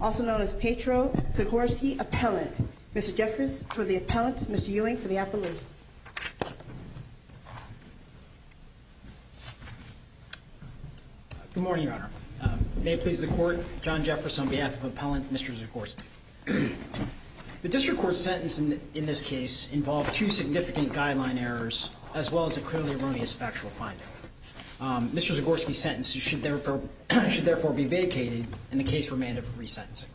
also known as Petro Zagorski Appellant. Mr. Jeffress for the Appellant, Mr. Ewing for the Appellant. Good morning, Your Honor. May it please the Court, John Jeffress on behalf of Appellant, Mr. Zagorski. The District Court's sentence in this case involved two significant guideline errors as well as a clearly erroneous factual finding. Mr. Zagorski's sentence should therefore be vacated and the case remanded for re-sentencing.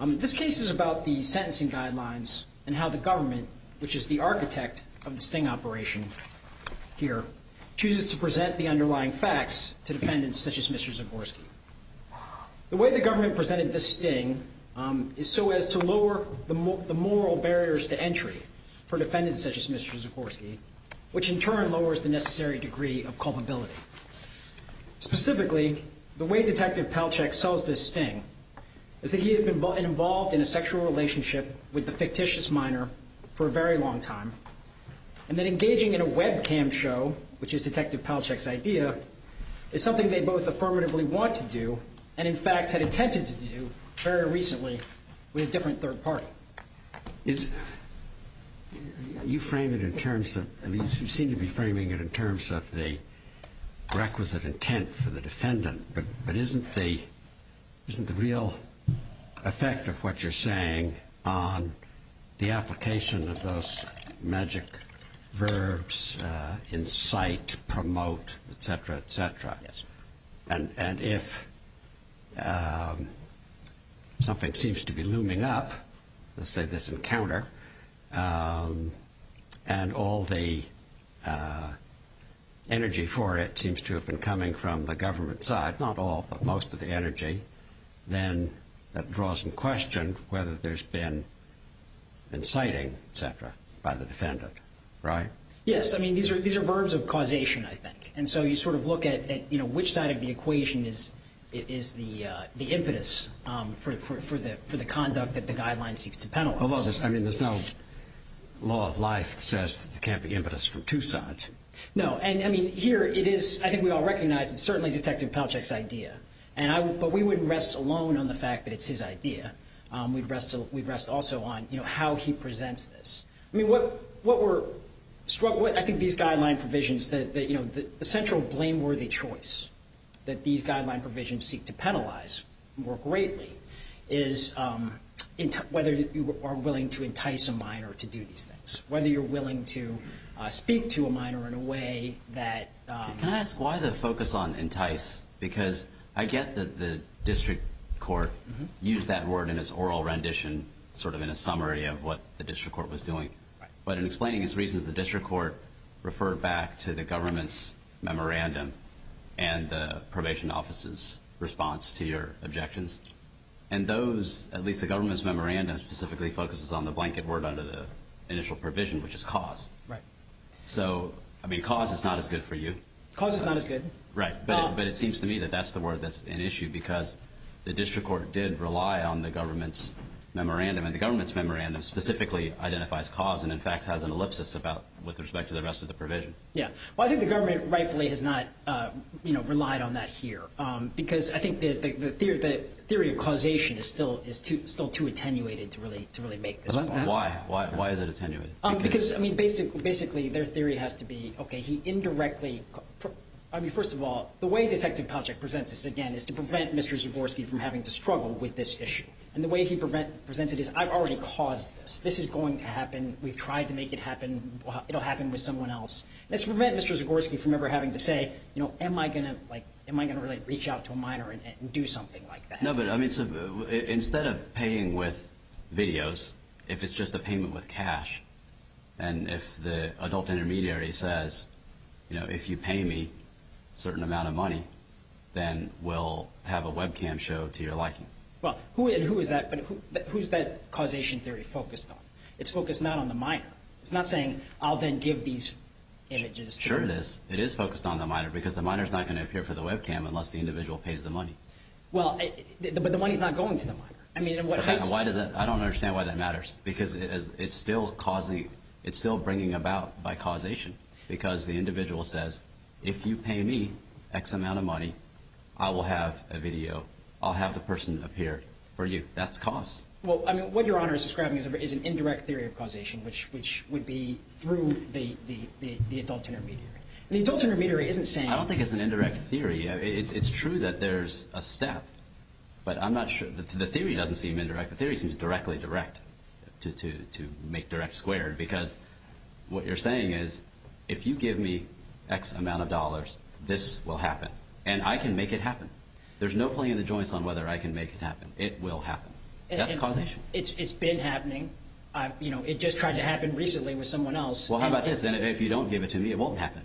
This case is about the sentencing guidelines and how the government, which is the architect of the sting operation here, chooses to present the underlying facts to defendants such as Mr. Zagorski. The way the government presented this sting is so as to lower the moral barriers to entry for defendants such as Mr. Zagorski, which in turn lowers the necessary degree of culpability. Specifically, the way Detective Palachek sells this sting is that he had been involved in a sexual relationship with the fictitious minor for a very long time, and that engaging in a webcam show, which is Detective Palachek's idea, is something they both affirmatively want to do and in fact had attempted to do very recently with a different third party. You seem to be framing it in terms of the requisite intent for the defendant, but isn't the real effect of what you're saying on the application of those magic verbs, incite, promote, etc., etc.? Yes. And if something seems to be looming up, let's say this encounter, and all the energy for it seems to have been coming from the government side, not all but most of the energy, then that draws in question whether there's been inciting, etc., by the defendant, right? Yes. I mean, these are verbs of causation, I think. And so you sort of look at which side of the equation is the impetus for the conduct that the guideline seeks to penalize. Although, I mean, there's no law of life that says there can't be impetus from two sides. No. And I mean, here it is. I think we all recognize it's certainly Detective Palachek's idea. But we wouldn't rest alone on the fact that it's his idea. We'd rest also on how he presents this. I mean, what we're struck with, I think, these guideline provisions that, you know, the central blameworthy choice that these guideline provisions seek to penalize more greatly is whether you are willing to entice a minor to do these things, whether you're willing to speak to a minor in a way that... I was going to ask, why the focus on entice? Because I get that the district court used that word in its oral rendition, sort of in a summary of what the district court was doing. But in explaining its reasons, the district court referred back to the government's memorandum and the probation office's response to your objections. And those, at least the government's memorandum, specifically focuses on the blanket word under the initial provision, which is cause. Right. So, I mean, cause is not as good for you. Cause is not as good. Right. But it seems to me that that's the word that's an issue because the district court did rely on the government's memorandum. And the government's memorandum specifically identifies cause and, in fact, has an ellipsis with respect to the rest of the provision. Yeah. Well, I think the government, rightfully, has not relied on that here because I think the theory of causation is still too attenuated to really make this point. Why? Why is it attenuated? Because, I mean, basically, their theory has to be, okay, he indirectly, I mean, first of all, the way Detective Palachuk presents this, again, is to prevent Mr. Zagorski from having to struggle with this issue. And the way he presents it is, I've already caused this. This is going to happen. We've tried to make it happen. It'll happen with someone else. Let's prevent Mr. Zagorski from ever having to say, you know, am I going to, like, am I going to really reach out to a minor and do something like that? No, but, I mean, instead of paying with videos, if it's just a payment with cash, and if the adult intermediary says, you know, if you pay me a certain amount of money, then we'll have a webcam show to your liking. Well, who is that causation theory focused on? It's focused not on the minor. It's not saying, I'll then give these images. Sure it is. It is focused on the minor because the minor's not going to appear for the webcam unless the individual pays the money. Well, but the money's not going to the minor. I mean, in what case— Why does that—I don't understand why that matters because it's still causing—it's still bringing about by causation because the individual says, if you pay me X amount of money, I will have a video. I'll have the person appear for you. That's cause. Well, I mean, what Your Honor is describing is an indirect theory of causation, which would be through the adult intermediary. And the adult intermediary isn't saying— I don't think it's an indirect theory. It's true that there's a step, but I'm not sure—the theory doesn't seem indirect. The theory seems directly direct to make direct squared because what you're saying is, if you give me X amount of dollars, this will happen. And I can make it happen. There's no playing the joints on whether I can make it happen. It will happen. That's causation. It's been happening. It just tried to happen recently with someone else. Well, how about this? If you don't give it to me, it won't happen.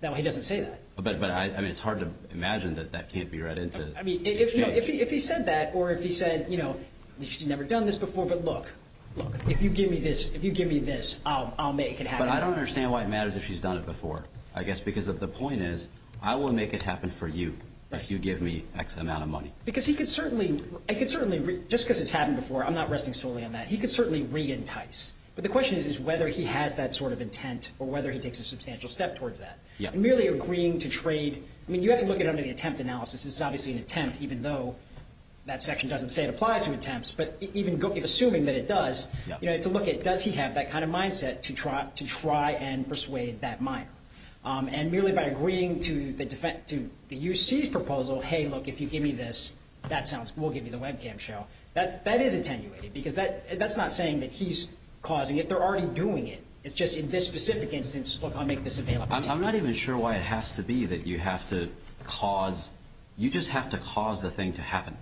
No, he doesn't say that. But I mean, it's hard to imagine that that can't be read into— I mean, if he said that, or if he said, you know, she's never done this before, but look, look, if you give me this, if you give me this, I'll make it happen. But I don't understand why it matters if she's done it before, I guess, because the point is, I will make it happen for you if you give me X amount of money. Because he could certainly—I could certainly—just cause it's happened before, I'm not resting solely on that. He could certainly re-entice. But the question is whether he has that sort of intent or whether he takes a substantial step towards that. Merely agreeing to trade—I mean, you have to look at it under the attempt analysis. This is obviously an attempt, even though that section doesn't say it applies to attempts. But even assuming that it does, you know, to look at, does he have that kind of mindset to try and persuade that miner? And merely by agreeing to the defense—to the U.C.'s proposal, hey, look, if you give me this, that sounds—we'll give you the webcam show. That is attenuated, because that's not saying that he's causing it. They're already doing it. It's just in this specific instance, look, I'll make this available to you. I'm not even sure why it has to be that you have to cause—you just have to cause the thing to happen.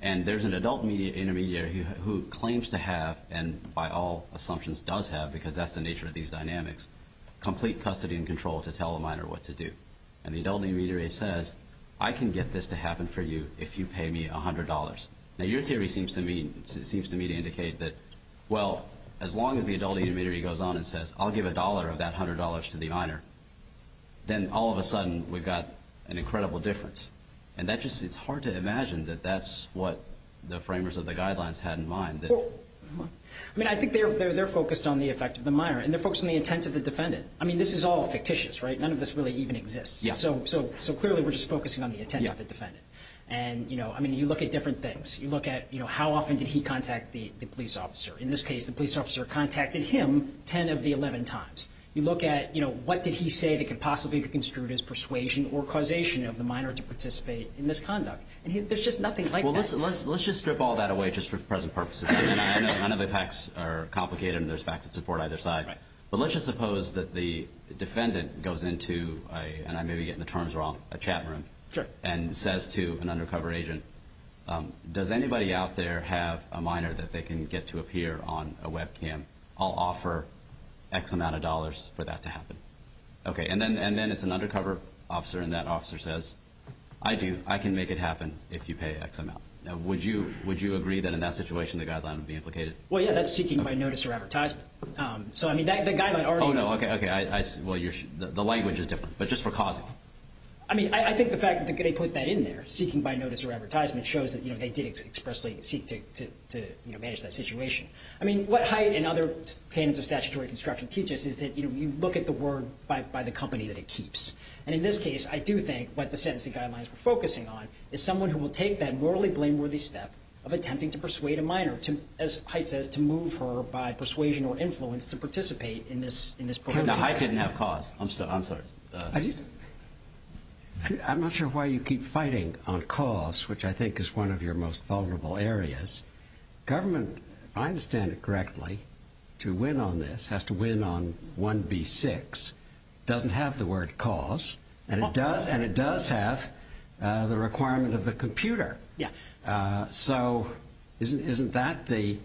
And there's an adult intermediary who claims to have—and by all assumptions does have, because that's the nature of these dynamics—complete custody and control to tell a miner what to do. And the adult intermediary says, I can get this to happen for you if you pay me $100. Now, your theory seems to me—seems to me to indicate that, well, as long as the adult intermediary goes on and says, I'll give a dollar of that $100 to the miner, then all of a sudden we've got an incredible difference. And that just—it's hard to imagine that that's what the framers of the guidelines had in mind. I mean, I think they're focused on the effect of the miner. And they're focused on the intent of the defendant. I mean, this is all fictitious, right? None of this really even exists. So clearly we're just focusing on the intent of the defendant. And, you know, I mean, you look at different things. You look at, you know, how often did he contact the police officer? In this case, the police officer contacted him 10 of the 11 times. You look at, you know, what did he say that could possibly be construed as persuasion or causation of the miner to participate in this conduct? And there's just nothing like that. Well, let's just strip all that away just for present purposes. None of the facts are complicated, and there's facts that support either side. Right. But let's just suppose that the defendant goes into a—and I may be getting the terms wrong—a chat room and says to an undercover agent, does anybody out there have a miner that they can get to appear on a webcam? I'll offer X amount of dollars for that to happen. Okay. And then it's an undercover officer, and that officer says, I do. I can make it happen if you pay X amount. Now, would you agree that in that situation the guideline would be implicated? Well, yeah, that's seeking by notice or advertisement. So, I mean, the guideline already— Oh, no. Okay. Okay. I see. Well, the language is different, but just for causing. I mean, I think the fact that they put that in there, seeking by notice or advertisement, shows that they did expressly seek to manage that situation. I mean, what Haidt and other canons of statutory construction teach us is that you look at the word by the company that it keeps. And in this case, I do think what the sentencing guidelines were focusing on is someone who will take that morally blameworthy step of attempting to persuade a miner to, as Haidt says, to move her by persuasion or influence to participate in this program. Now, Haidt didn't have cause. I'm sorry. I'm not sure why you keep fighting on cause, which I think is one of your most vulnerable areas. Government, if I understand it correctly, to win on this has to win on 1B6. It doesn't have the word cause, and it does have the requirement of the computer. Yeah. So isn't that the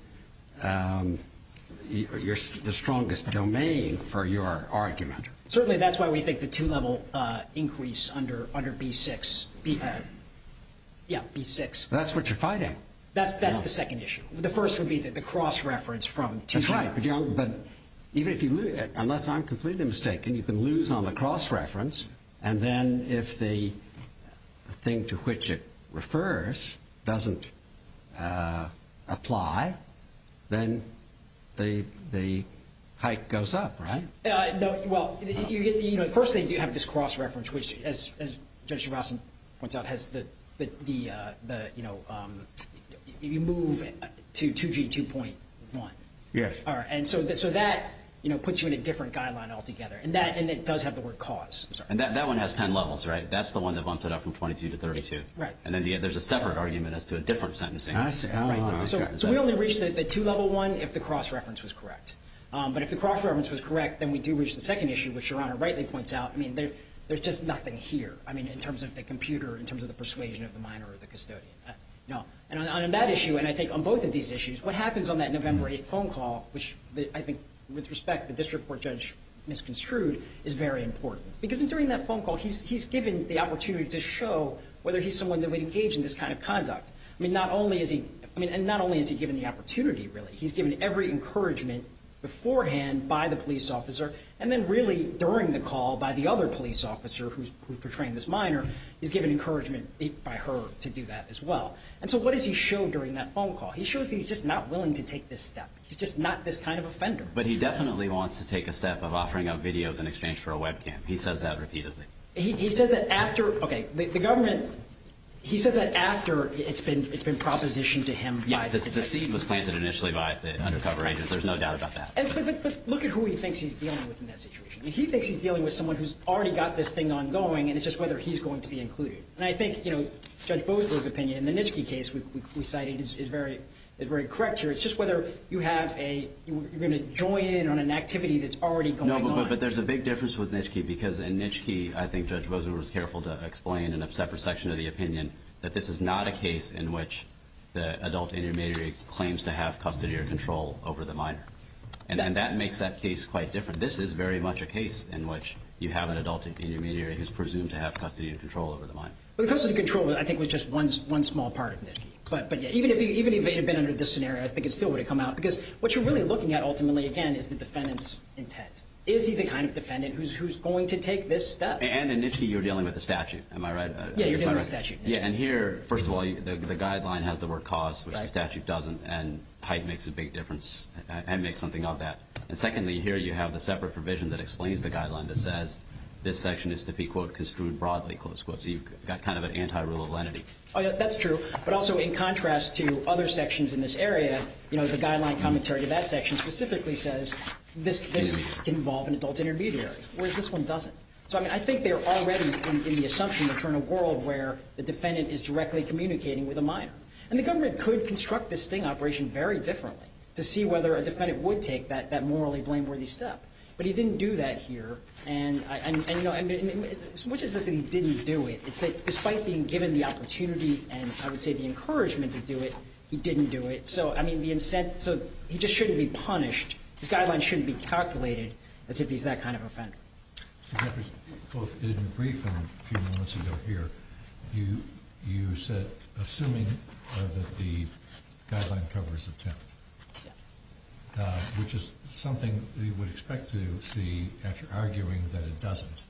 strongest domain for your argument? Certainly, that's why we think the two-level increase under B6. Yeah, B6. That's what you're fighting. That's the second issue. The first would be that the cross-reference from two-level. That's right. Unless I'm completely mistaken, you can lose on the cross-reference. And then if the thing to which it refers doesn't apply, then the height goes up, right? Well, first, they do have this cross-reference, which, as Judge DeVos points out, has the move to 2G2.1. Yes. All right. And so that puts you in a different guideline altogether, and it does have the word cause. I'm sorry. And that one has 10 levels, right? That's the one that bumped it up from 22 to 32. Right. And then there's a separate argument as to a different sentencing. I see. So we only reached the two-level one if the cross-reference was correct. But if the cross-reference was correct, then we do reach the second issue, which Your Honor rightly points out. I mean, there's just nothing here, I mean, in terms of the computer, in terms of the persuasion of the minor or the custodian. No. And on that issue, and I think on both of these issues, what happens on that November 8 phone call, which I think, with respect, the district court judge misconstrued, is very important. Because during that phone call, he's given the opportunity to show whether he's someone that would engage in this kind of conduct. I mean, not only is he given the opportunity, really. He's given every encouragement beforehand by the police officer. And then really during the call by the other police officer who's portraying this minor, he's given encouragement by her to do that as well. And so what does he show during that phone call? He shows that he's just not willing to take this step. He's just not this kind of offender. But he definitely wants to take a step of offering up videos in exchange for a webcam. He says that repeatedly. He says that after, okay, the government, he says that after it's been propositioned to him by the district court judge. It was planted initially by the undercover agents. There's no doubt about that. But look at who he thinks he's dealing with in that situation. He thinks he's dealing with someone who's already got this thing ongoing. And it's just whether he's going to be included. And I think Judge Bozberg's opinion in the Nitschke case we cited is very correct here. It's just whether you're going to join in on an activity that's already going on. No, but there's a big difference with Nitschke. Because in Nitschke, I think Judge Bozberg was careful to explain in a separate section of the opinion that this is not a case in which the adult intermediary claims to have custody or control over the minor. And that makes that case quite different. This is very much a case in which you have an adult intermediary who's presumed to have custody and control over the minor. Well, the custody and control, I think, was just one small part of Nitschke. But even if he had been under this scenario, I think it still would have come out. Because what you're really looking at, ultimately, again, is the defendant's intent. Is he the kind of defendant who's going to take this step? And in Nitschke, you're dealing with a statute. Am I right? Yeah, you're dealing with a statute. Yeah, and here, first of all, the guideline has the word cause, which the statute doesn't. And height makes a big difference and makes something of that. And secondly, here you have the separate provision that explains the guideline that says this section is to be, quote, construed broadly, close quote. So you've got kind of an anti-rule of lenity. Oh, yeah, that's true. But also, in contrast to other sections in this area, the guideline commentary to that section specifically says this can involve an adult intermediary, whereas this one doesn't. So I think they're already in the assumption that we're in a world where the defendant is directly communicating with a minor. And the government could construct this sting operation very differently to see whether a defendant would take that morally blameworthy step. But he didn't do that here. And what it says that he didn't do it, it's that despite being given the opportunity and, I would say, the encouragement to do it, he didn't do it. So he just shouldn't be punished. His guidelines shouldn't be calculated as if he's that kind of offender. Mr. Jeffries, both in brief and a few moments ago here, you said assuming that the guideline covers attempt, which is something you would expect to see after arguing that it doesn't.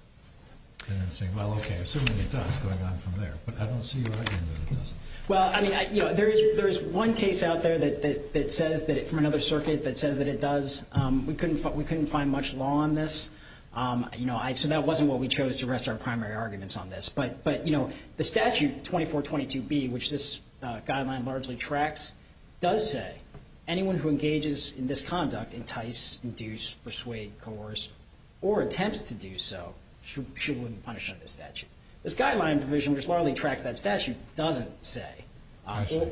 And then saying, well, OK, assuming it does, going on from there. But I don't see you arguing that it doesn't. Well, I mean, there is one case out there that says that, from another circuit, that says that it does. We couldn't find much law on this. So that wasn't what we chose to rest our primary arguments on this. But the statute 2422B, which this guideline largely tracks, does say anyone who engages in this conduct, entice, induce, persuade, coerce, or attempts to do so, she wouldn't be punished under this statute. This guideline provision, which largely tracks that statute, doesn't say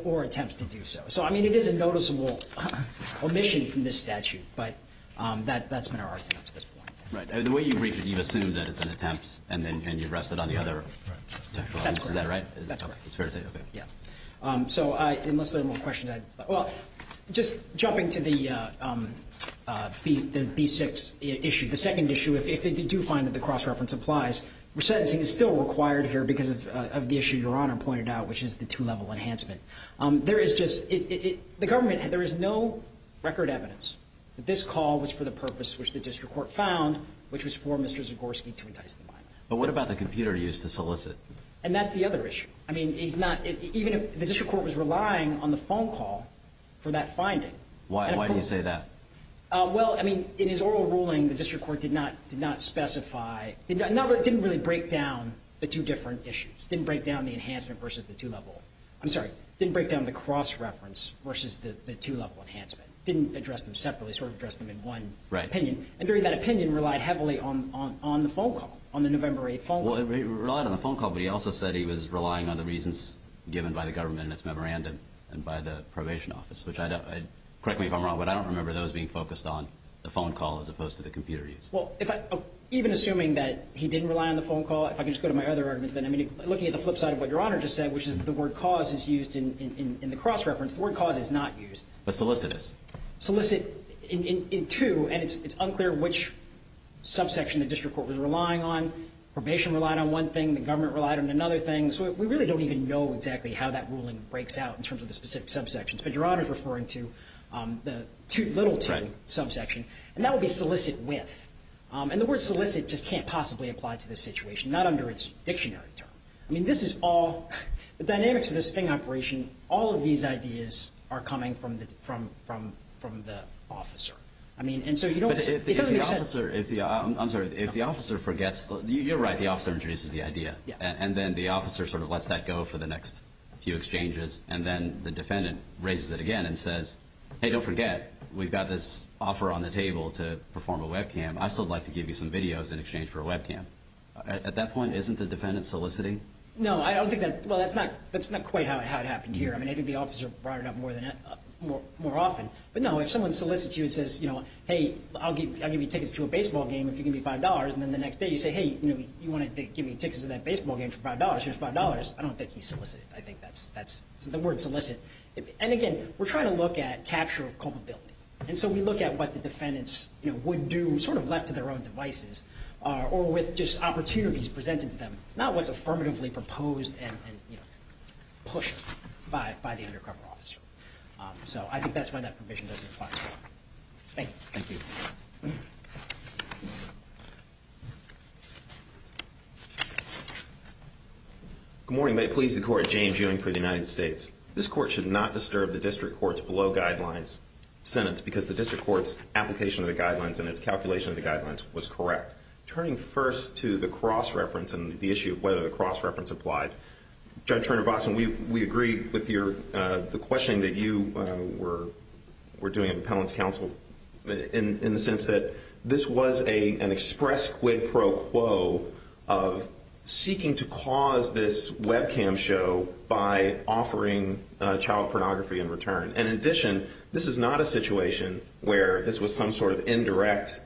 or attempts to do so. So I mean, it is a noticeable omission from this statute. But that's been our argument up to this point. Right. And the way you brief it, you assume that it's an attempt. And then you rest it on the other. Right. Is that right? That's right. It's fair to say. OK. Yeah. So unless there are more questions, I'd like, well, just jumping to the B6 issue, the second issue, if they do find that the cross-reference applies, sentencing is still required here because of the issue Your Honor pointed out, which is the two-level enhancement. There is just, the government, there is no record evidence that this call was for the court found, which was for Mr. Zagorski to entice them by. But what about the computer used to solicit? And that's the other issue. I mean, he's not, even if the district court was relying on the phone call for that finding. Why do you say that? Well, I mean, in his oral ruling, the district court did not specify, didn't really break down the two different issues, didn't break down the enhancement versus the two-level, I'm sorry, didn't break down the cross-reference versus the two-level enhancement. Didn't address them separately, sort of addressed them in one opinion. Right. And during that opinion, relied heavily on the phone call, on the November 8 phone call. Well, he relied on the phone call, but he also said he was relying on the reasons given by the government in its memorandum and by the probation office, which I don't, correct me if I'm wrong, but I don't remember those being focused on the phone call as opposed to the computer use. Well, even assuming that he didn't rely on the phone call, if I could just go to my other arguments then. I mean, looking at the flip side of what Your Honor just said, which is the word cause is used in the cross-reference. The word cause is not used. But solicit is. Solicit in two, and it's unclear which subsection the district court was relying on. Probation relied on one thing. The government relied on another thing. So we really don't even know exactly how that ruling breaks out in terms of the specific subsections. But Your Honor is referring to the little two subsection. And that would be solicit with. And the word solicit just can't possibly apply to this situation, not under its dictionary term. I mean, this is all, the dynamics of this thing operation, all of these ideas are coming from the officer. I mean, and so you don't. But if the officer, I'm sorry, if the officer forgets, you're right, the officer introduces the idea. And then the officer sort of lets that go for the next few exchanges. And then the defendant raises it again and says, hey, don't forget, we've got this offer on the table to perform a webcam. I still would like to give you some videos in exchange for a webcam. At that point, isn't the defendant soliciting? No, I don't think that, well, that's not quite how it happened here. I think the officer brought it up more often. But no, if someone solicits you and says, hey, I'll give you tickets to a baseball game if you give me $5. And then the next day you say, hey, you wanted to give me tickets to that baseball game for $5. Here's $5. I don't think he solicited. I think that's the word solicit. And again, we're trying to look at capture of culpability. And so we look at what the defendants would do sort of left to their own devices or with just opportunities presented to them, not what's affirmatively proposed and pushed by the undercover officer. So I think that's why that provision doesn't apply. Thank you. Thank you. Good morning. May it please the court. James Ewing for the United States. This court should not disturb the district court's below guidelines sentence because the district court's application of the guidelines and its calculation of the guidelines was correct. Turning first to the cross-reference and the issue of whether the cross-reference applied, Judge Turner-Botson, we agree with the questioning that you were doing at Appellant's Counsel in the sense that this was an express quid pro quo of seeking to cause this webcam show by offering child pornography in return. And in addition, this is not a situation where this was some sort of indirect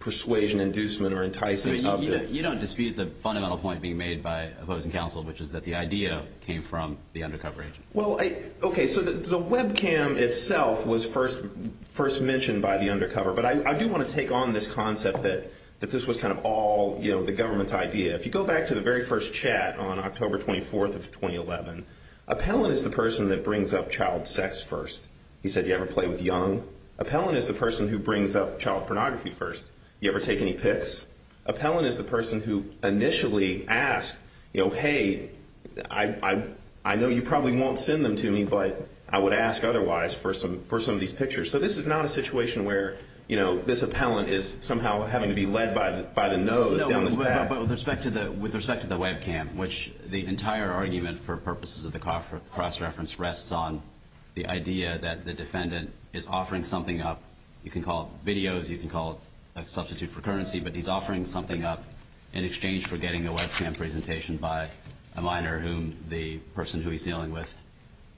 persuasion, inducement, or enticing object. You don't dispute the fundamental point being made by opposing counsel, which is that the idea came from the undercover agent. Well, OK, so the webcam itself was first mentioned by the undercover. But I do want to take on this concept that this was kind of all the government's idea. If you go back to the very first chat on October 24th of 2011, Appellant is the person that brings up child sex first. He said, you ever play with young? Appellant is the person who brings up child pornography first. You ever take any pics? Appellant is the person who initially asked, you know, hey, I know you probably won't send them to me, but I would ask otherwise for some of these pictures. So this is not a situation where, you know, this appellant is somehow having to be led by the nose down this path. But with respect to the webcam, which the entire argument for purposes of the cross reference rests on the idea that the defendant is offering something up. You can call it videos. You can call it a substitute for currency. But he's offering something up in exchange for getting a webcam presentation by a minor whom the person who he's dealing with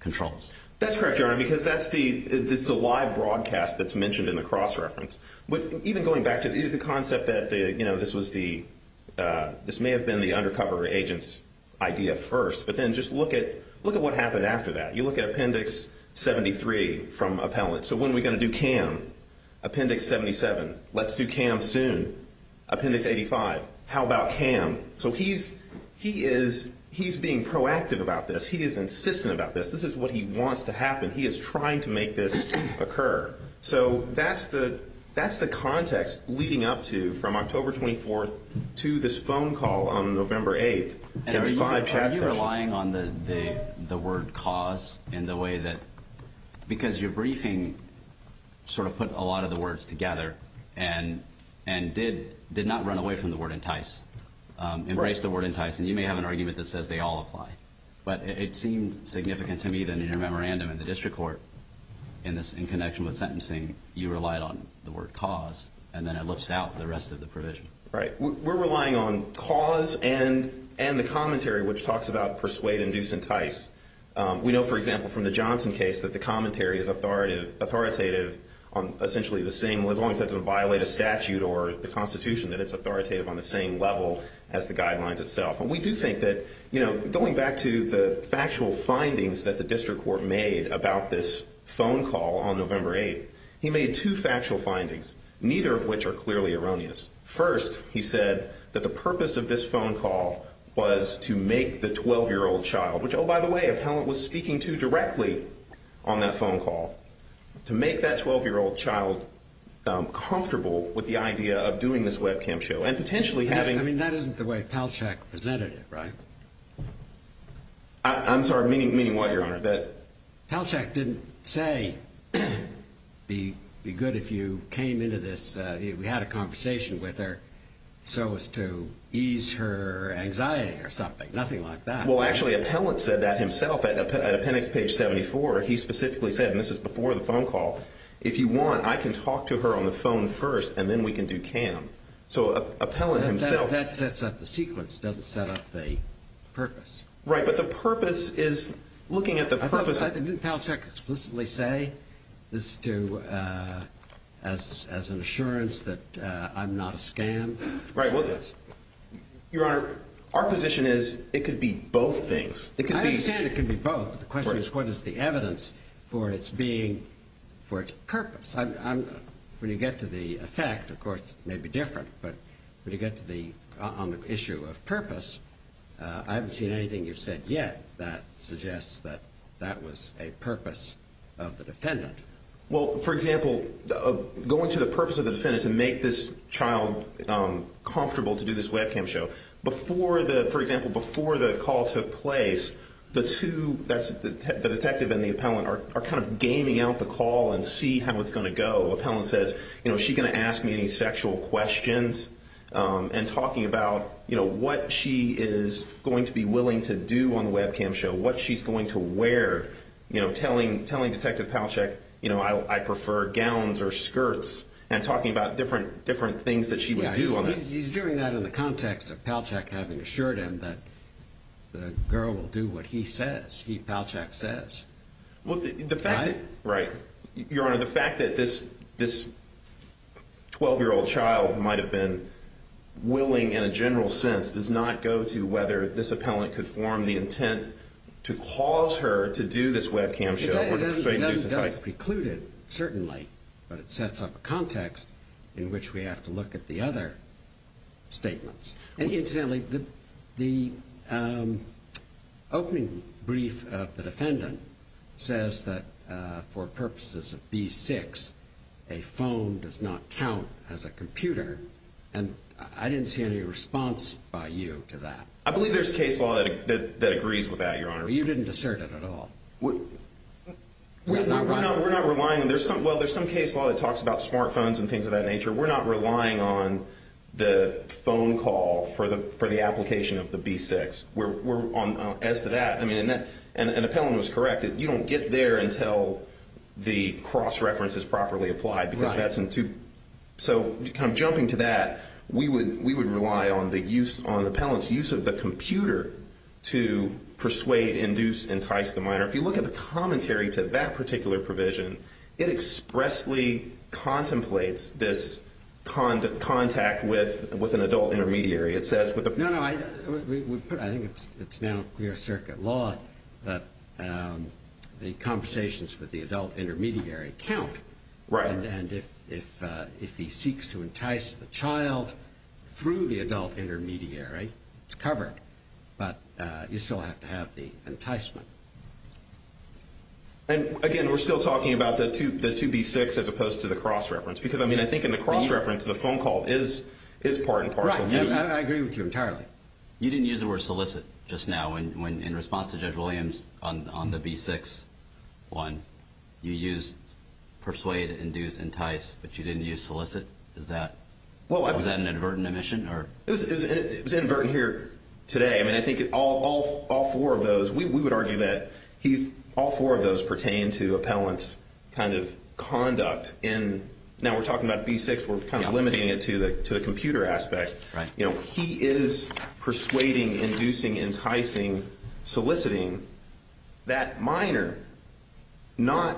controls. That's correct, Your Honor, because that's the live broadcast that's mentioned in the cross reference. But even going back to the concept that, you know, this may have been the undercover agent's idea first. But then just look at what happened after that. You look at Appendix 73 from Appellant. So when are we going to do cam? Appendix 77. Let's do cam soon. Appendix 85. How about cam? So he is being proactive about this. He is insistent about this. This is what he wants to happen. He is trying to make this occur. So that's the context leading up to from October 24th to this phone call on November 8th in five chat sessions. So, you know, there's a lot of the words together and did not run away from the word entice. Embraced the word entice. And you may have an argument that says they all apply. But it seemed significant to me that in your memorandum in the district court in connection with sentencing, you relied on the word cause. And then it lifts out the rest of the provision. Right. We're relying on cause and the commentary which talks about persuade, induce, entice. We know, for example, from the Johnson case that the commentary is authoritative on essentially as long as it doesn't violate a statute or the constitution that it's authoritative on the same level as the guidelines itself. And we do think that, you know, going back to the factual findings that the district court made about this phone call on November 8th, he made two factual findings, neither of which are clearly erroneous. First, he said that the purpose of this phone call was to make the 12-year-old child, which, oh, by the way, appellant was speaking to directly on that phone call, to make that 12-year-old child comfortable with the idea of doing this webcam show. And potentially having... I mean, that isn't the way Palachuk presented it, right? I'm sorry. Meaning what, Your Honor? Palachuk didn't say, be good if you came into this, we had a conversation with her so as to ease her anxiety or something. Nothing like that. Well, actually, appellant said that himself at appendix page 74. He specifically said, and this is before the phone call, if you want, I can talk to her on the phone first and then we can do cam. So appellant himself... That sets up the sequence, doesn't set up the purpose. Right, but the purpose is looking at the purpose... Didn't Palachuk explicitly say this to, as an assurance that I'm not a scam? Right, well, Your Honor, our position is it could be both things. It could be... The question is, what is the evidence for its purpose? When you get to the effect, of course, it may be different. But when you get to the issue of purpose, I haven't seen anything you've said yet that suggests that that was a purpose of the defendant. Well, for example, going to the purpose of the defendant to make this child comfortable to do this webcam show, for example, before the call took place, the two... The detective and the appellant are kind of gaming out the call and see how it's going to go. Appellant says, you know, is she going to ask me any sexual questions? And talking about, you know, what she is going to be willing to do on the webcam show, what she's going to wear, you know, telling Detective Palachuk, you know, I prefer gowns or skirts, and talking about different things that she would do on that. He's doing that in the context of Palachuk having assured him that the girl will do what he says. He Palachuk says. Well, the fact that... Right. Your Honor, the fact that this 12-year-old child might have been willing in a general sense does not go to whether this appellant could form the intent to cause her to do this webcam show. It doesn't preclude it, certainly, but it sets up a context in which we have to look at the other statements. And incidentally, the opening brief of the defendant says that for purposes of B-6, a phone does not count as a computer, and I didn't see any response by you to that. I believe there's case law that agrees with that, Your Honor. You didn't assert it at all. We're not relying on... Well, there's some case law that talks about smartphones and things of that nature. We're not relying on the phone call for the application of the B-6. As to that, I mean, an appellant was correct. You don't get there until the cross-reference is properly applied because that's in two... So kind of jumping to that, we would rely on the appellant's use of the computer to persuade, induce, entice the minor. If you look at the commentary to that particular provision, it expressly contemplates this contact with an adult intermediary. It says with the... No, no, I think it's now clear circuit law that the conversations with the adult intermediary count, and if he seeks to entice the child through the adult intermediary, it's covered, but you still have to have the enticement. And, again, we're still talking about the two B-6 as opposed to the cross-reference because, I mean, I think in the cross-reference, the phone call is part and parcel, too. Right. I agree with you entirely. You didn't use the word solicit just now when, in response to Judge Williams on the B-6 one, you used persuade, induce, entice, but you didn't use solicit. Is that an inadvertent omission or... It was inadvertent here today. I think all four of those, we would argue that all four of those pertain to appellant's kind of conduct. And now we're talking about B-6, we're kind of limiting it to the computer aspect. He is persuading, inducing, enticing, soliciting that minor, not...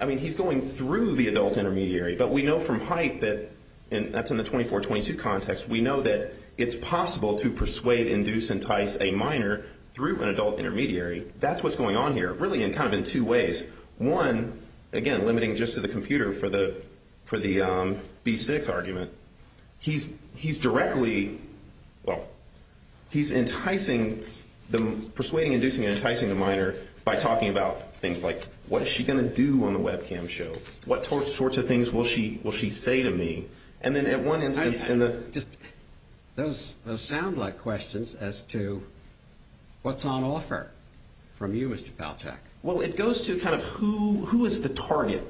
I mean, he's going through the adult intermediary, but we know from HITE that, and that's in a 24-22 context, we know that it's possible to persuade, induce, entice a minor through an adult intermediary. That's what's going on here, really kind of in two ways. One, again, limiting just to the computer for the B-6 argument, he's directly, well, he's enticing, persuading, inducing, enticing the minor by talking about things like, what is she going to do on the webcam show? What sorts of things will she say to me? And then at one instance in the... I just, those sound like questions as to what's on offer from you, Mr. Palachuk. Well, it goes to kind of who is the target?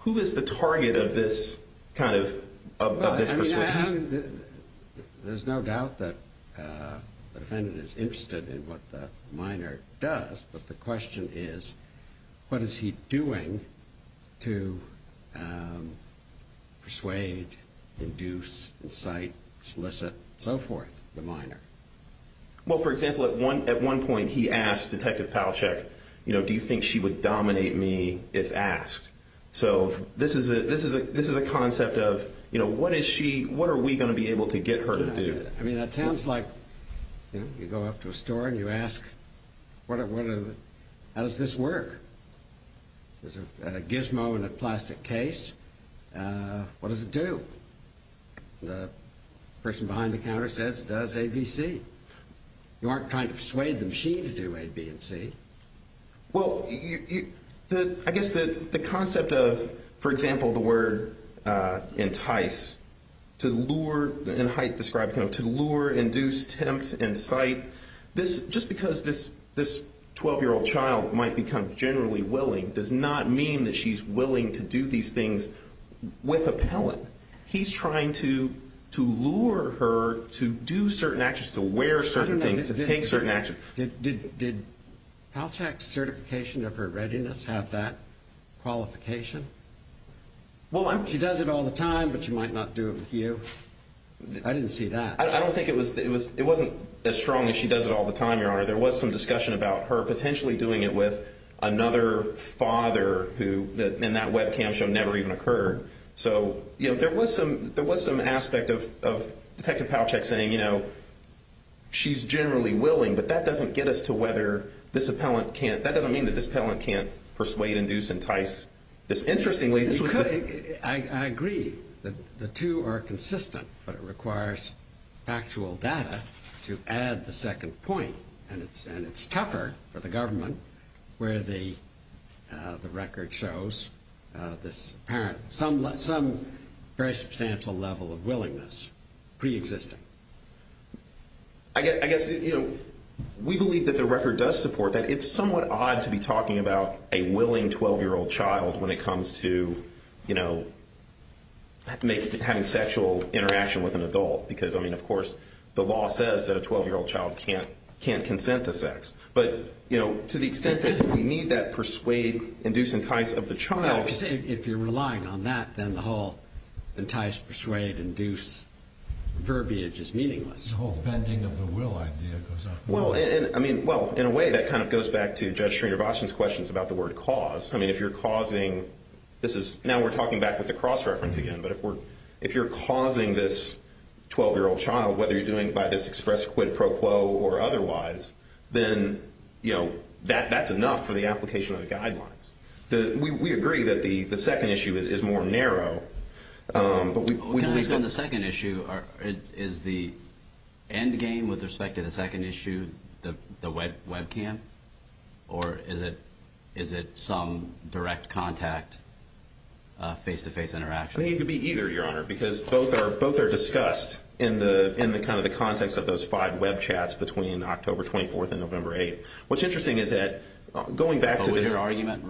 Who is the target of this kind of, of this persuasion? There's no doubt that the defendant is interested in what the minor does, but the question is, what is he doing to persuade, induce, incite, solicit, so forth, the minor? Well, for example, at one point he asked Detective Palachuk, do you think she would dominate me if asked? So this is a concept of, what is she, what are we going to be able to get her to do? I mean, that sounds like you go up to a store and you ask, how does this work? There's a gizmo in a plastic case. What does it do? The person behind the counter says it does A, B, C. You aren't trying to persuade the machine to do A, B, and C. Well, I guess the concept of, for example, the word entice, to lure, and Haidt described kind of, to lure, induce, tempt, incite, this, just because this 12-year-old child might become generally willing does not mean that she's willing to do these things with a pellet. He's trying to lure her to do certain actions, to wear certain things, to take certain actions. Did Palachuk's certification of her readiness have that qualification? She does it all the time, but she might not do it with you. I didn't see that. I don't think it was, it wasn't as strong as she does it all the time, Your Honor. There was some discussion about her potentially doing it with another father who, and that webcam show never even occurred. So, you know, there was some aspect of Detective Palachuk saying, you know, she's generally willing, but that doesn't get us to whether this appellant can't, that doesn't mean that this appellant can't persuade, induce, entice this. Interestingly, this was the- I agree that the two are consistent, but it requires factual data to add the second point. And it's tougher for the government where the record shows this apparent, some very substantial level of willingness preexisting. I guess, you know, we believe that the record does support that. It's somewhat odd to be talking about a willing 12-year-old child when it comes to, you know, having sexual interaction with an adult. Because, I mean, of course, the law says that a 12-year-old child can't consent to sex. But, you know, to the extent that we need that persuade, induce, entice of the child- If you're relying on that, then the whole entice, persuade, induce verbiage is meaningless. The whole bending of the will idea goes off. I mean, well, in a way, that kind of goes back to Judge Srinivasan's questions about the word cause. I mean, if you're causing- This is- Now we're talking back with the cross-reference again. But if we're- If you're causing this 12-year-old child, whether you're doing it by this express, quid pro quo or otherwise, then, you know, that's enough for the application of the guidelines. We agree that the second issue is more narrow. But we- Based on the second issue, is the end game with respect to the second issue the webcam? Or is it some direct contact, face-to-face interaction? I think it could be either, Your Honor, because both are discussed in the kind of the context of those five webchats between October 24th and November 8th. What's interesting is that, going back to this- But was your argument-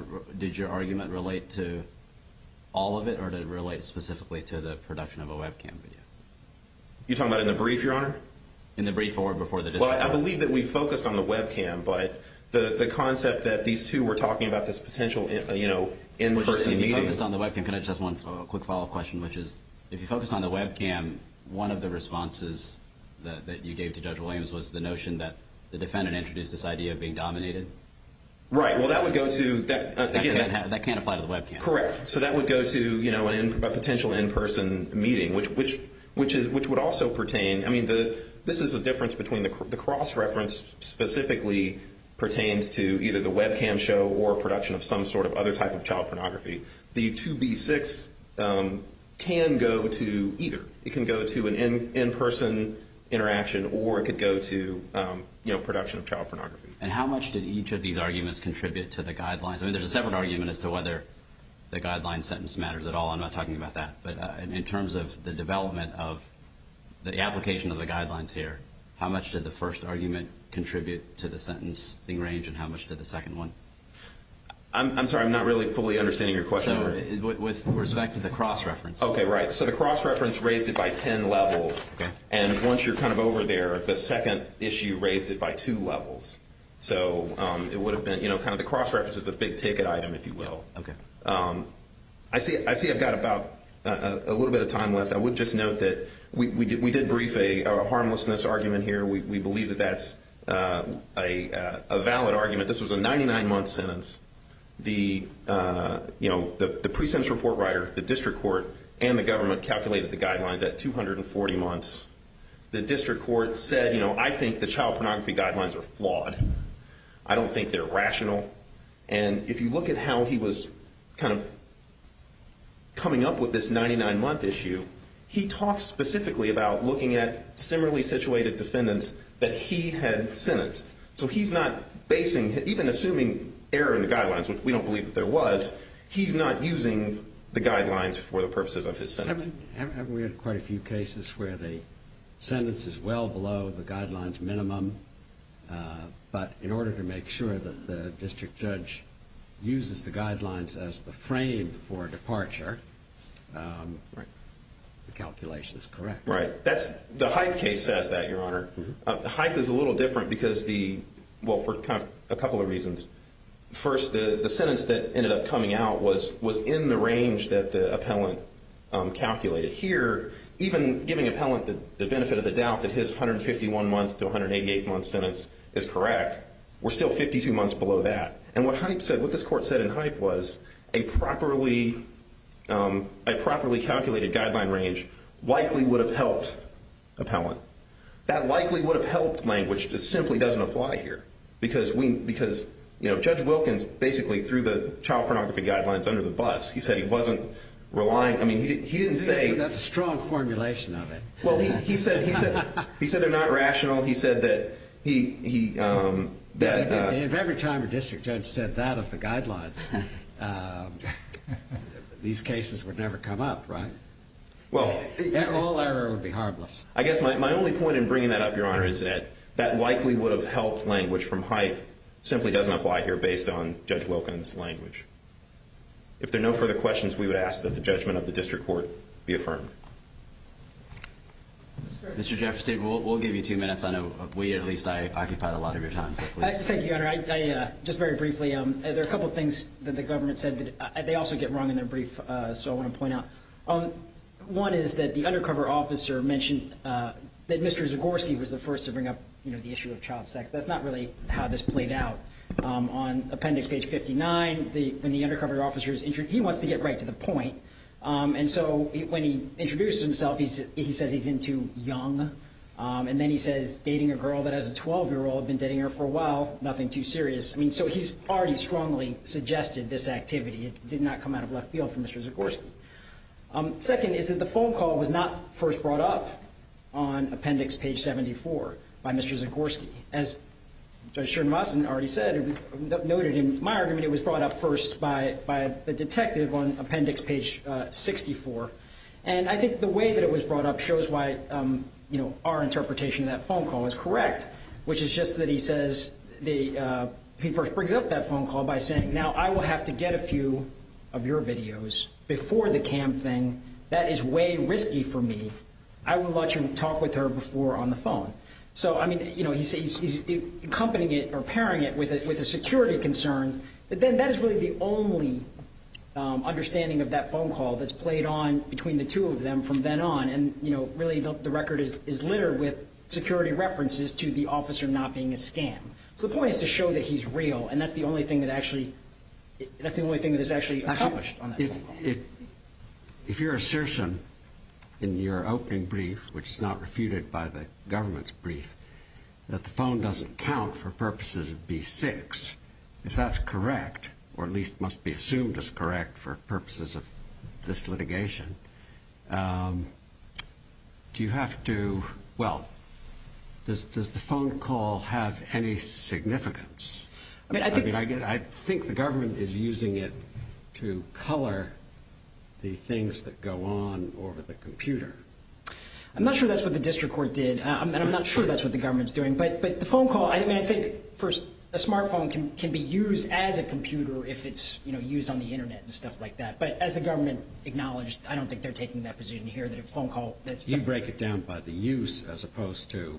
You're talking about in the brief, Your Honor? In the brief or before the- Well, I believe that we focused on the webcam. But the concept that these two were talking about this potential, you know, in-person meeting- If you focused on the webcam, can I just ask one quick follow-up question, which is, if you focused on the webcam, one of the responses that you gave to Judge Williams was the notion that the defendant introduced this idea of being dominated? Right. Well, that would go to- That can't apply to the webcam. Correct. So that would go to, you know, a potential in-person meeting, which would also pertain- I mean, this is a difference between the cross-reference specifically pertains to either the webcam show or production of some sort of other type of child pornography. The 2B6 can go to either. It can go to an in-person interaction or it could go to, you know, production of child pornography. And how much did each of these arguments contribute to the guidelines? I mean, there's a separate argument as to whether the guidelines sentence matters at all. I'm not talking about that. But in terms of the development of the application of the guidelines here, how much did the first argument contribute to the sentencing range and how much did the second one? I'm sorry. I'm not really fully understanding your question. So with respect to the cross-reference. Okay. Right. So the cross-reference raised it by 10 levels. And once you're kind of over there, the second issue raised it by two levels. So it would have been, you know, kind of the cross-reference is a big ticket item, if you will. Okay. I see I've got about a little bit of time left. I would just note that we did brief a harmlessness argument here. We believe that that's a valid argument. This was a 99-month sentence. The, you know, the pre-sentence report writer, the district court, and the government calculated the guidelines at 240 months. The district court said, you know, I think the child pornography guidelines are flawed. I don't think they're rational. And if you look at how he was kind of coming up with this 99-month issue, he talks specifically about looking at similarly situated defendants that he had sentenced. So he's not basing, even assuming error in the guidelines, which we don't believe that there was, he's not using the guidelines for the purposes of his sentence. Haven't we had quite a few cases where the sentence is well below the guidelines minimum, but in order to make sure that the district judge uses the guidelines as the frame for departure, the calculation is correct. Right. That's, the Hype case says that, Your Honor. Hype is a little different because the, well, for a couple of reasons. First, the sentence that ended up coming out was in the range that the appellant calculated. Here, even giving appellant the benefit of the doubt that his 151-month to 188-month sentence is correct, we're still 52 months below that. And what Hype said, what this court said in Hype was, a properly calculated guideline range likely would have helped appellant. That likely would have helped language just simply doesn't apply here. Because we, because, you know, Judge Wilkins basically through the child pornography guidelines under the bus, he said he wasn't relying. I mean, he didn't say. That's a strong formulation of it. Well, he said, he said, he said they're not rational. He said that he, that. If every time a district judge said that of the guidelines, these cases would never come up, right? Well, all error would be harmless. I guess my only point in bringing that up, Your Honor, is that that likely would have helped language from Hype simply doesn't apply here based on Judge Wilkins' language. If there are no further questions, we would ask that the judgment of the district court be affirmed. Mr. Jefferson, we'll give you two minutes. I know we, at least I, occupied a lot of your time, so please. Thank you, Your Honor. I, just very briefly, there are a couple of things that the government said that, they also get wrong in their brief, so I want to point out. One is that the undercover officer mentioned that Mr. Zagorski was the first to bring up, you know, the issue of child sex. That's not really how this played out. On appendix page 59, when the undercover officer is introduced, he wants to get right to the point, and so when he introduces himself, he says he's into young, and then he says dating a girl that has a 12-year-old, been dating her for a while, nothing too serious. I mean, so he's already strongly suggested this activity. It did not come out of left field for Mr. Zagorski. Second is that the phone call was not first brought up on appendix page 74 by Mr. Zagorski. As Judge Sherman already said, noted in my argument, it was brought up first by the detective on appendix page 64, and I think the way that it was brought up shows why, you know, our interpretation of that phone call is correct, which is just that he says, he first brings up that phone call by saying, now I will have to get a few of your videos before the cam thing. That is way risky for me. I will let you talk with her before on the phone. So, I mean, you know, he's accompanying it or pairing it with a security concern, but then that is really the only understanding of that phone call that's played on between the two of them from then on, and, you know, really the record is littered with security references to the officer not being a scam. So the point is to show that he's real, and that's the only thing that actually, that's If your assertion in your opening brief, which is not refuted by the government's brief, that the phone doesn't count for purposes of B6, if that's correct, or at least must be assumed as correct for purposes of this litigation, do you have to, well, does the phone call have any significance? I mean, I think the government is using it to color the things that go on over the computer. I'm not sure that's what the district court did, and I'm not sure that's what the government is doing, but the phone call, I mean, I think, first, a smartphone can be used as a computer if it's, you know, used on the internet and stuff like that, but as the government acknowledged, I don't think they're taking that position here that a phone call You break it down by the use as opposed to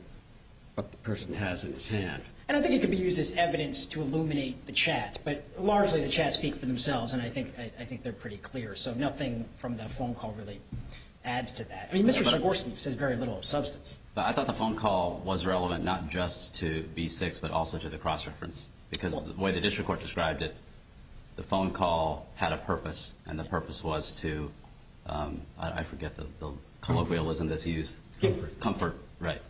what the person has in his hand. And I think it could be used as evidence to illuminate the chats, but largely the chats speak for themselves, and I think they're pretty clear, so nothing from the phone call really adds to that. I mean, Mr. Szygorski says very little of substance. But I thought the phone call was relevant not just to B6, but also to the cross-reference, because the way the district court described it, the phone call had a purpose, and the purpose was to, I forget the colloquialism that's used, comfort, right.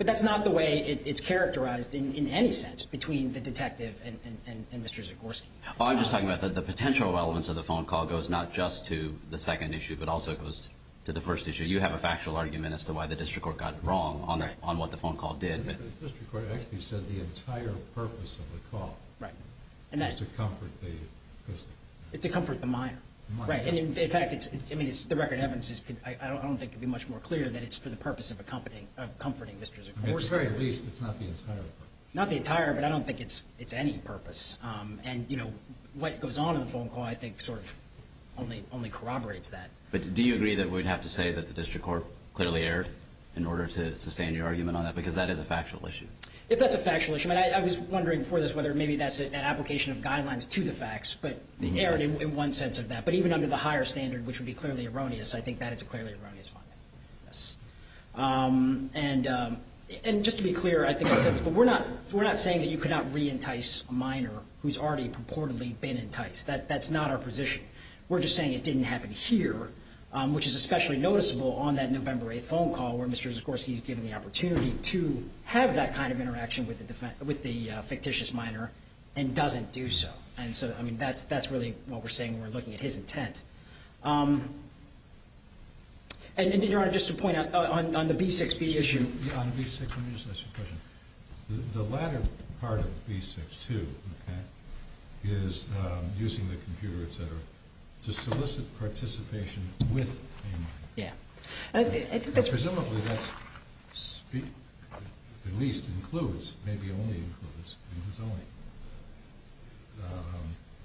But that's not the way it's characterized in any sense between the detective and Mr. Szygorski. I'm just talking about the potential relevance of the phone call goes not just to the second issue, but also goes to the first issue. You have a factual argument as to why the district court got wrong on what the phone call did. The district court actually said the entire purpose of the call was to comfort the person. It's to comfort the minor, right. And in fact, I mean, the record of evidence, I don't think it would be much more clear that it's for the purpose of comforting Mr. Szygorski. At the very least, it's not the entire purpose. Not the entire, but I don't think it's any purpose. And what goes on in the phone call, I think, sort of only corroborates that. But do you agree that we'd have to say that the district court clearly erred in order to sustain your argument on that? Because that is a factual issue. If that's a factual issue, I mean, I was wondering before this whether maybe that's an application of guidelines to the facts, but erred in one sense of that. But even under the higher standard, which would be clearly erroneous, I think that is a clearly erroneous finding. Yes. And just to be clear, I think I said this, but we're not saying that you could not re-entice a minor who's already purportedly been enticed. That's not our position. We're just saying it didn't happen here, which is especially noticeable on that November 8th phone call where Mr. Szygorski's given the opportunity to have that kind of interaction with the fictitious minor and doesn't do so. And so, I mean, that's really what we're saying when we're looking at his intent. And, Your Honor, just to point out, on the B6B issue— Excuse me. On B6, let me just ask you a question. The latter part of B6, too, is using the computer, et cetera, to solicit participation with a minor. Yeah. Presumably, that's at least includes, maybe only includes, maybe it's only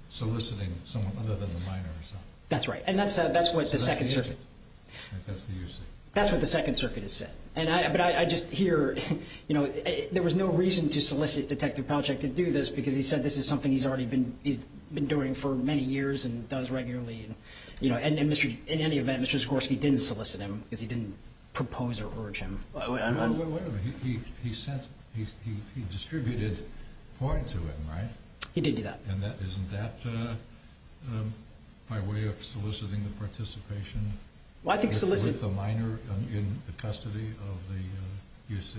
soliciting someone other than the minor himself. That's right. And that's what the Second Circuit— That's the U.C. That's what the Second Circuit has said. And I—but I just hear, you know, there was no reason to solicit Detective Palachuk to do this because he said this is something he's already been doing for many years and does regularly. And, you know, in any event, Mr. Szygorski didn't solicit him because he didn't propose or urge him. Wait a minute. He sent—he distributed porn to him, right? He did do that. And that—isn't that by way of soliciting the participation with a minor in the custody of the U.C.?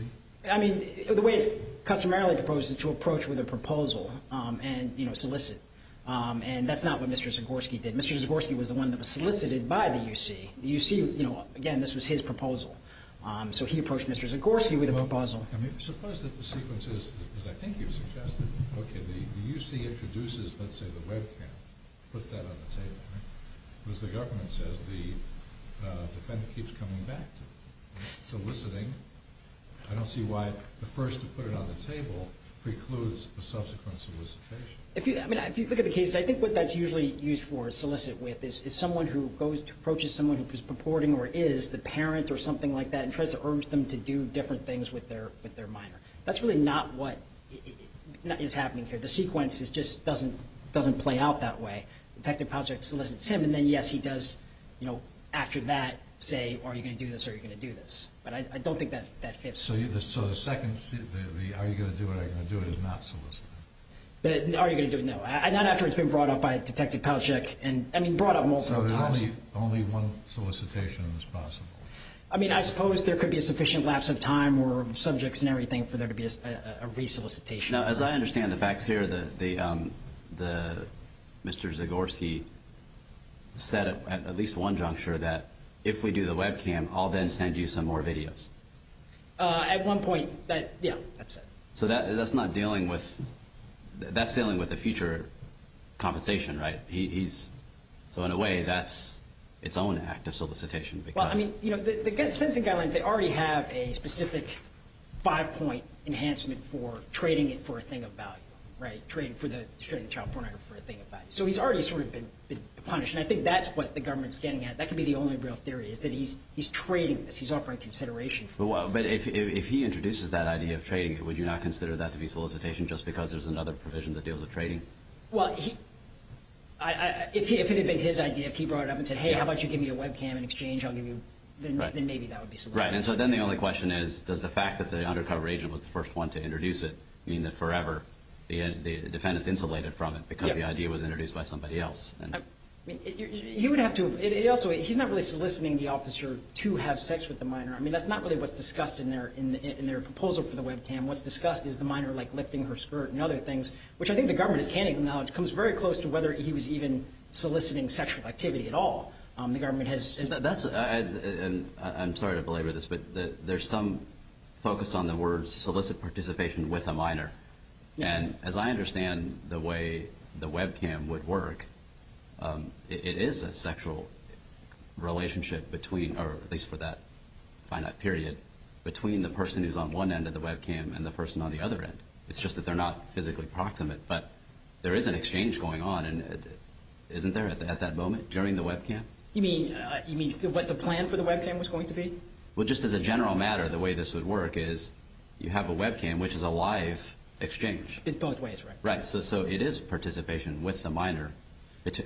I mean, the way it's customarily proposed is to approach with a proposal and, you know, solicit. And that's not what Mr. Szygorski did. Mr. Szygorski was the one that was solicited by the U.C. The U.C., you know, again, this was his proposal. So he approached Mr. Szygorski with a proposal. I mean, suppose that the sequence is, as I think you've suggested, okay, the U.C. introduces, let's say, the webcam, puts that on the table, right? Because the government says the defendant keeps coming back to soliciting. I don't see why the first to put it on the table precludes the subsequent solicitation. If you—I mean, if you look at the cases, I think what that's usually used for, solicit with, is someone who goes to—approaches someone who is purporting or is the parent or something like that and tries to urge them to do different things with their minor. That's really not what is happening here. The sequence just doesn't play out that way. Detective Palczyk solicits him, and then, yes, he does, you know, after that, say, are you going to do this or are you going to do this? But I don't think that fits. So the second, the are you going to do it or are you going to do it, is not solicited? Are you going to do it? No. Not after it's been brought up by Detective Palczyk and, I mean, brought up multiple times. So there's only one solicitation that's possible? I mean, I suppose there could be a sufficient lapse of time or subjects and everything for there to be a re-solicitation. Now, as I understand the facts here, the—Mr. Zagorski said at least one juncture that if we do the webcam, I'll then send you some more videos. At one point, yeah, that's it. So that's not dealing with—that's dealing with a future compensation, right? He's—so in a way, that's its own act of solicitation because— I mean, you know, the sentencing guidelines, they already have a specific five-point enhancement for trading it for a thing of value, right? Trading for the—trading the child pornography for a thing of value. So he's already sort of been punished. And I think that's what the government's getting at. That could be the only real theory is that he's trading this. He's offering consideration for it. But if he introduces that idea of trading it, would you not consider that to be solicitation just because there's another provision that deals with trading? Well, if it had been his idea, if he brought it up and said, hey, how about you give me a webcam in exchange, I'll give you—then maybe that would be solicitation. Right. And so then the only question is, does the fact that the undercover agent was the first one to introduce it mean that forever the defendant's insulated from it because the idea was introduced by somebody else? He would have to—it also—he's not really soliciting the officer to have sex with the minor. I mean, that's not really what's discussed in their proposal for the webcam. What's discussed is the minor, like, lifting her skirt and other things, which I think the government is canning now. It comes very close to whether he was even soliciting sexual activity at all. The government has— See, that's—and I'm sorry to belabor this, but there's some focus on the words solicit participation with a minor. And as I understand the way the webcam would work, it is a sexual relationship between—or at least for that finite period—between the person who's on one end of the webcam and the person on the other end. It's just that they're not physically proximate. But there is an exchange going on. And isn't there at that moment during the webcam? You mean what the plan for the webcam was going to be? Well, just as a general matter, the way this would work is you have a webcam, which is a live exchange. In both ways, right? Right. So it is participation with the minor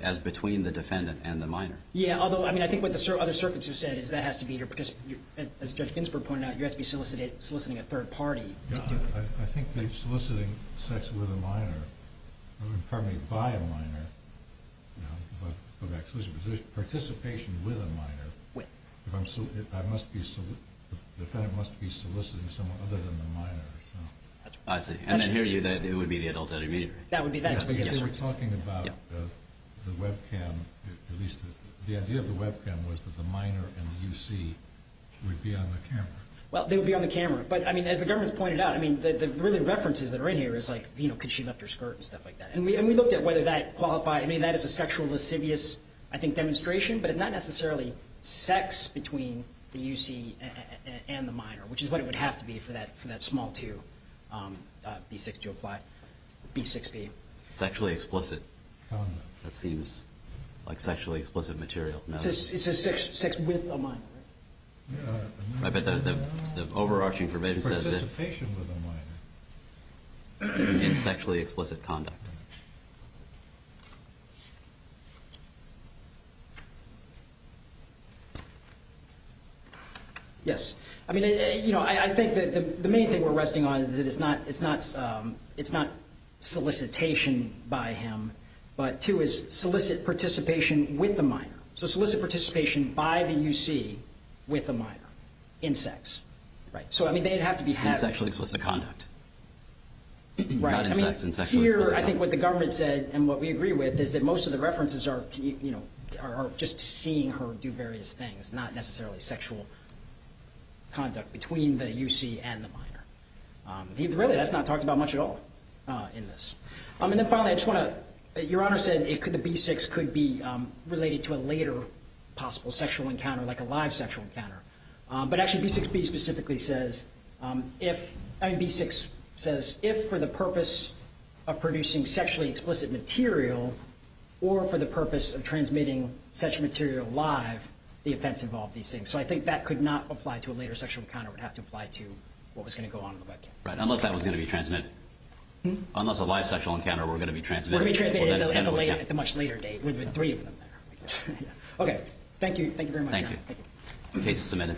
as between the defendant and the minor. Yeah. Although, I mean, I think what the other circuits have said is that has to be your—as Judge Ginsburg pointed out, you have to be soliciting a third party. I think they're soliciting sex with a minor—I mean, pardon me, by a minor. But actually, it's participation with a minor. I must be—the defendant must be soliciting someone other than the minor. I see. And I hear you that it would be the adult intermediary. That would be that. Because we're talking about the webcam, at least the idea of the webcam was that the minor and the UC would be on the camera. Well, they would be on the camera. But, I mean, as the government's pointed out, I mean, the really references that are in here is like, you know, could she lift her skirt and stuff like that. And we looked at whether that qualified—I mean, that is a sexual lascivious, I think, demonstration, but it's not necessarily sex between the UC and the minor, which is what it would have to be for that small two, B6 to apply, B6B. Sexually explicit. That seems like sexually explicit material. It's a sex with a minor. Yeah, but the overarching provision says— Participation with a minor. In sexually explicit conduct. Yes. I mean, you know, I think that the main thing we're resting on is that it's not solicitation by him, but two, is solicit participation with the minor. So solicit participation by the UC with a minor, in sex. Right. So, I mean, they'd have to be having— In sexually explicit conduct. Right. Not in sex. In sexually explicit conduct. I mean, here, I think what the government said, and what we agree with, is that most of the references are, you know, are just seeing her do various things, not necessarily sexual conduct between the UC and the minor. Really, that's not talked about much at all in this. And then, finally, I just want to—your Honor said it could—the B6 could be related to a later possible sexual encounter, like a live sexual encounter. But actually, B6B specifically says, if—I mean, B6 says, if for the purpose of producing sexually explicit material, or for the purpose of transmitting such material live, the offense involved these things. So I think that could not apply to a later sexual encounter. It would have to apply to what was going to go on in the webcam. Right. Unless that was going to be transmitted—unless a live sexual encounter, we're going to be transmitting— It could be transmitted at the much later date, with three of them there. Okay. Thank you. Thank you very much. Thank you. Thank you. Okay, just a minute.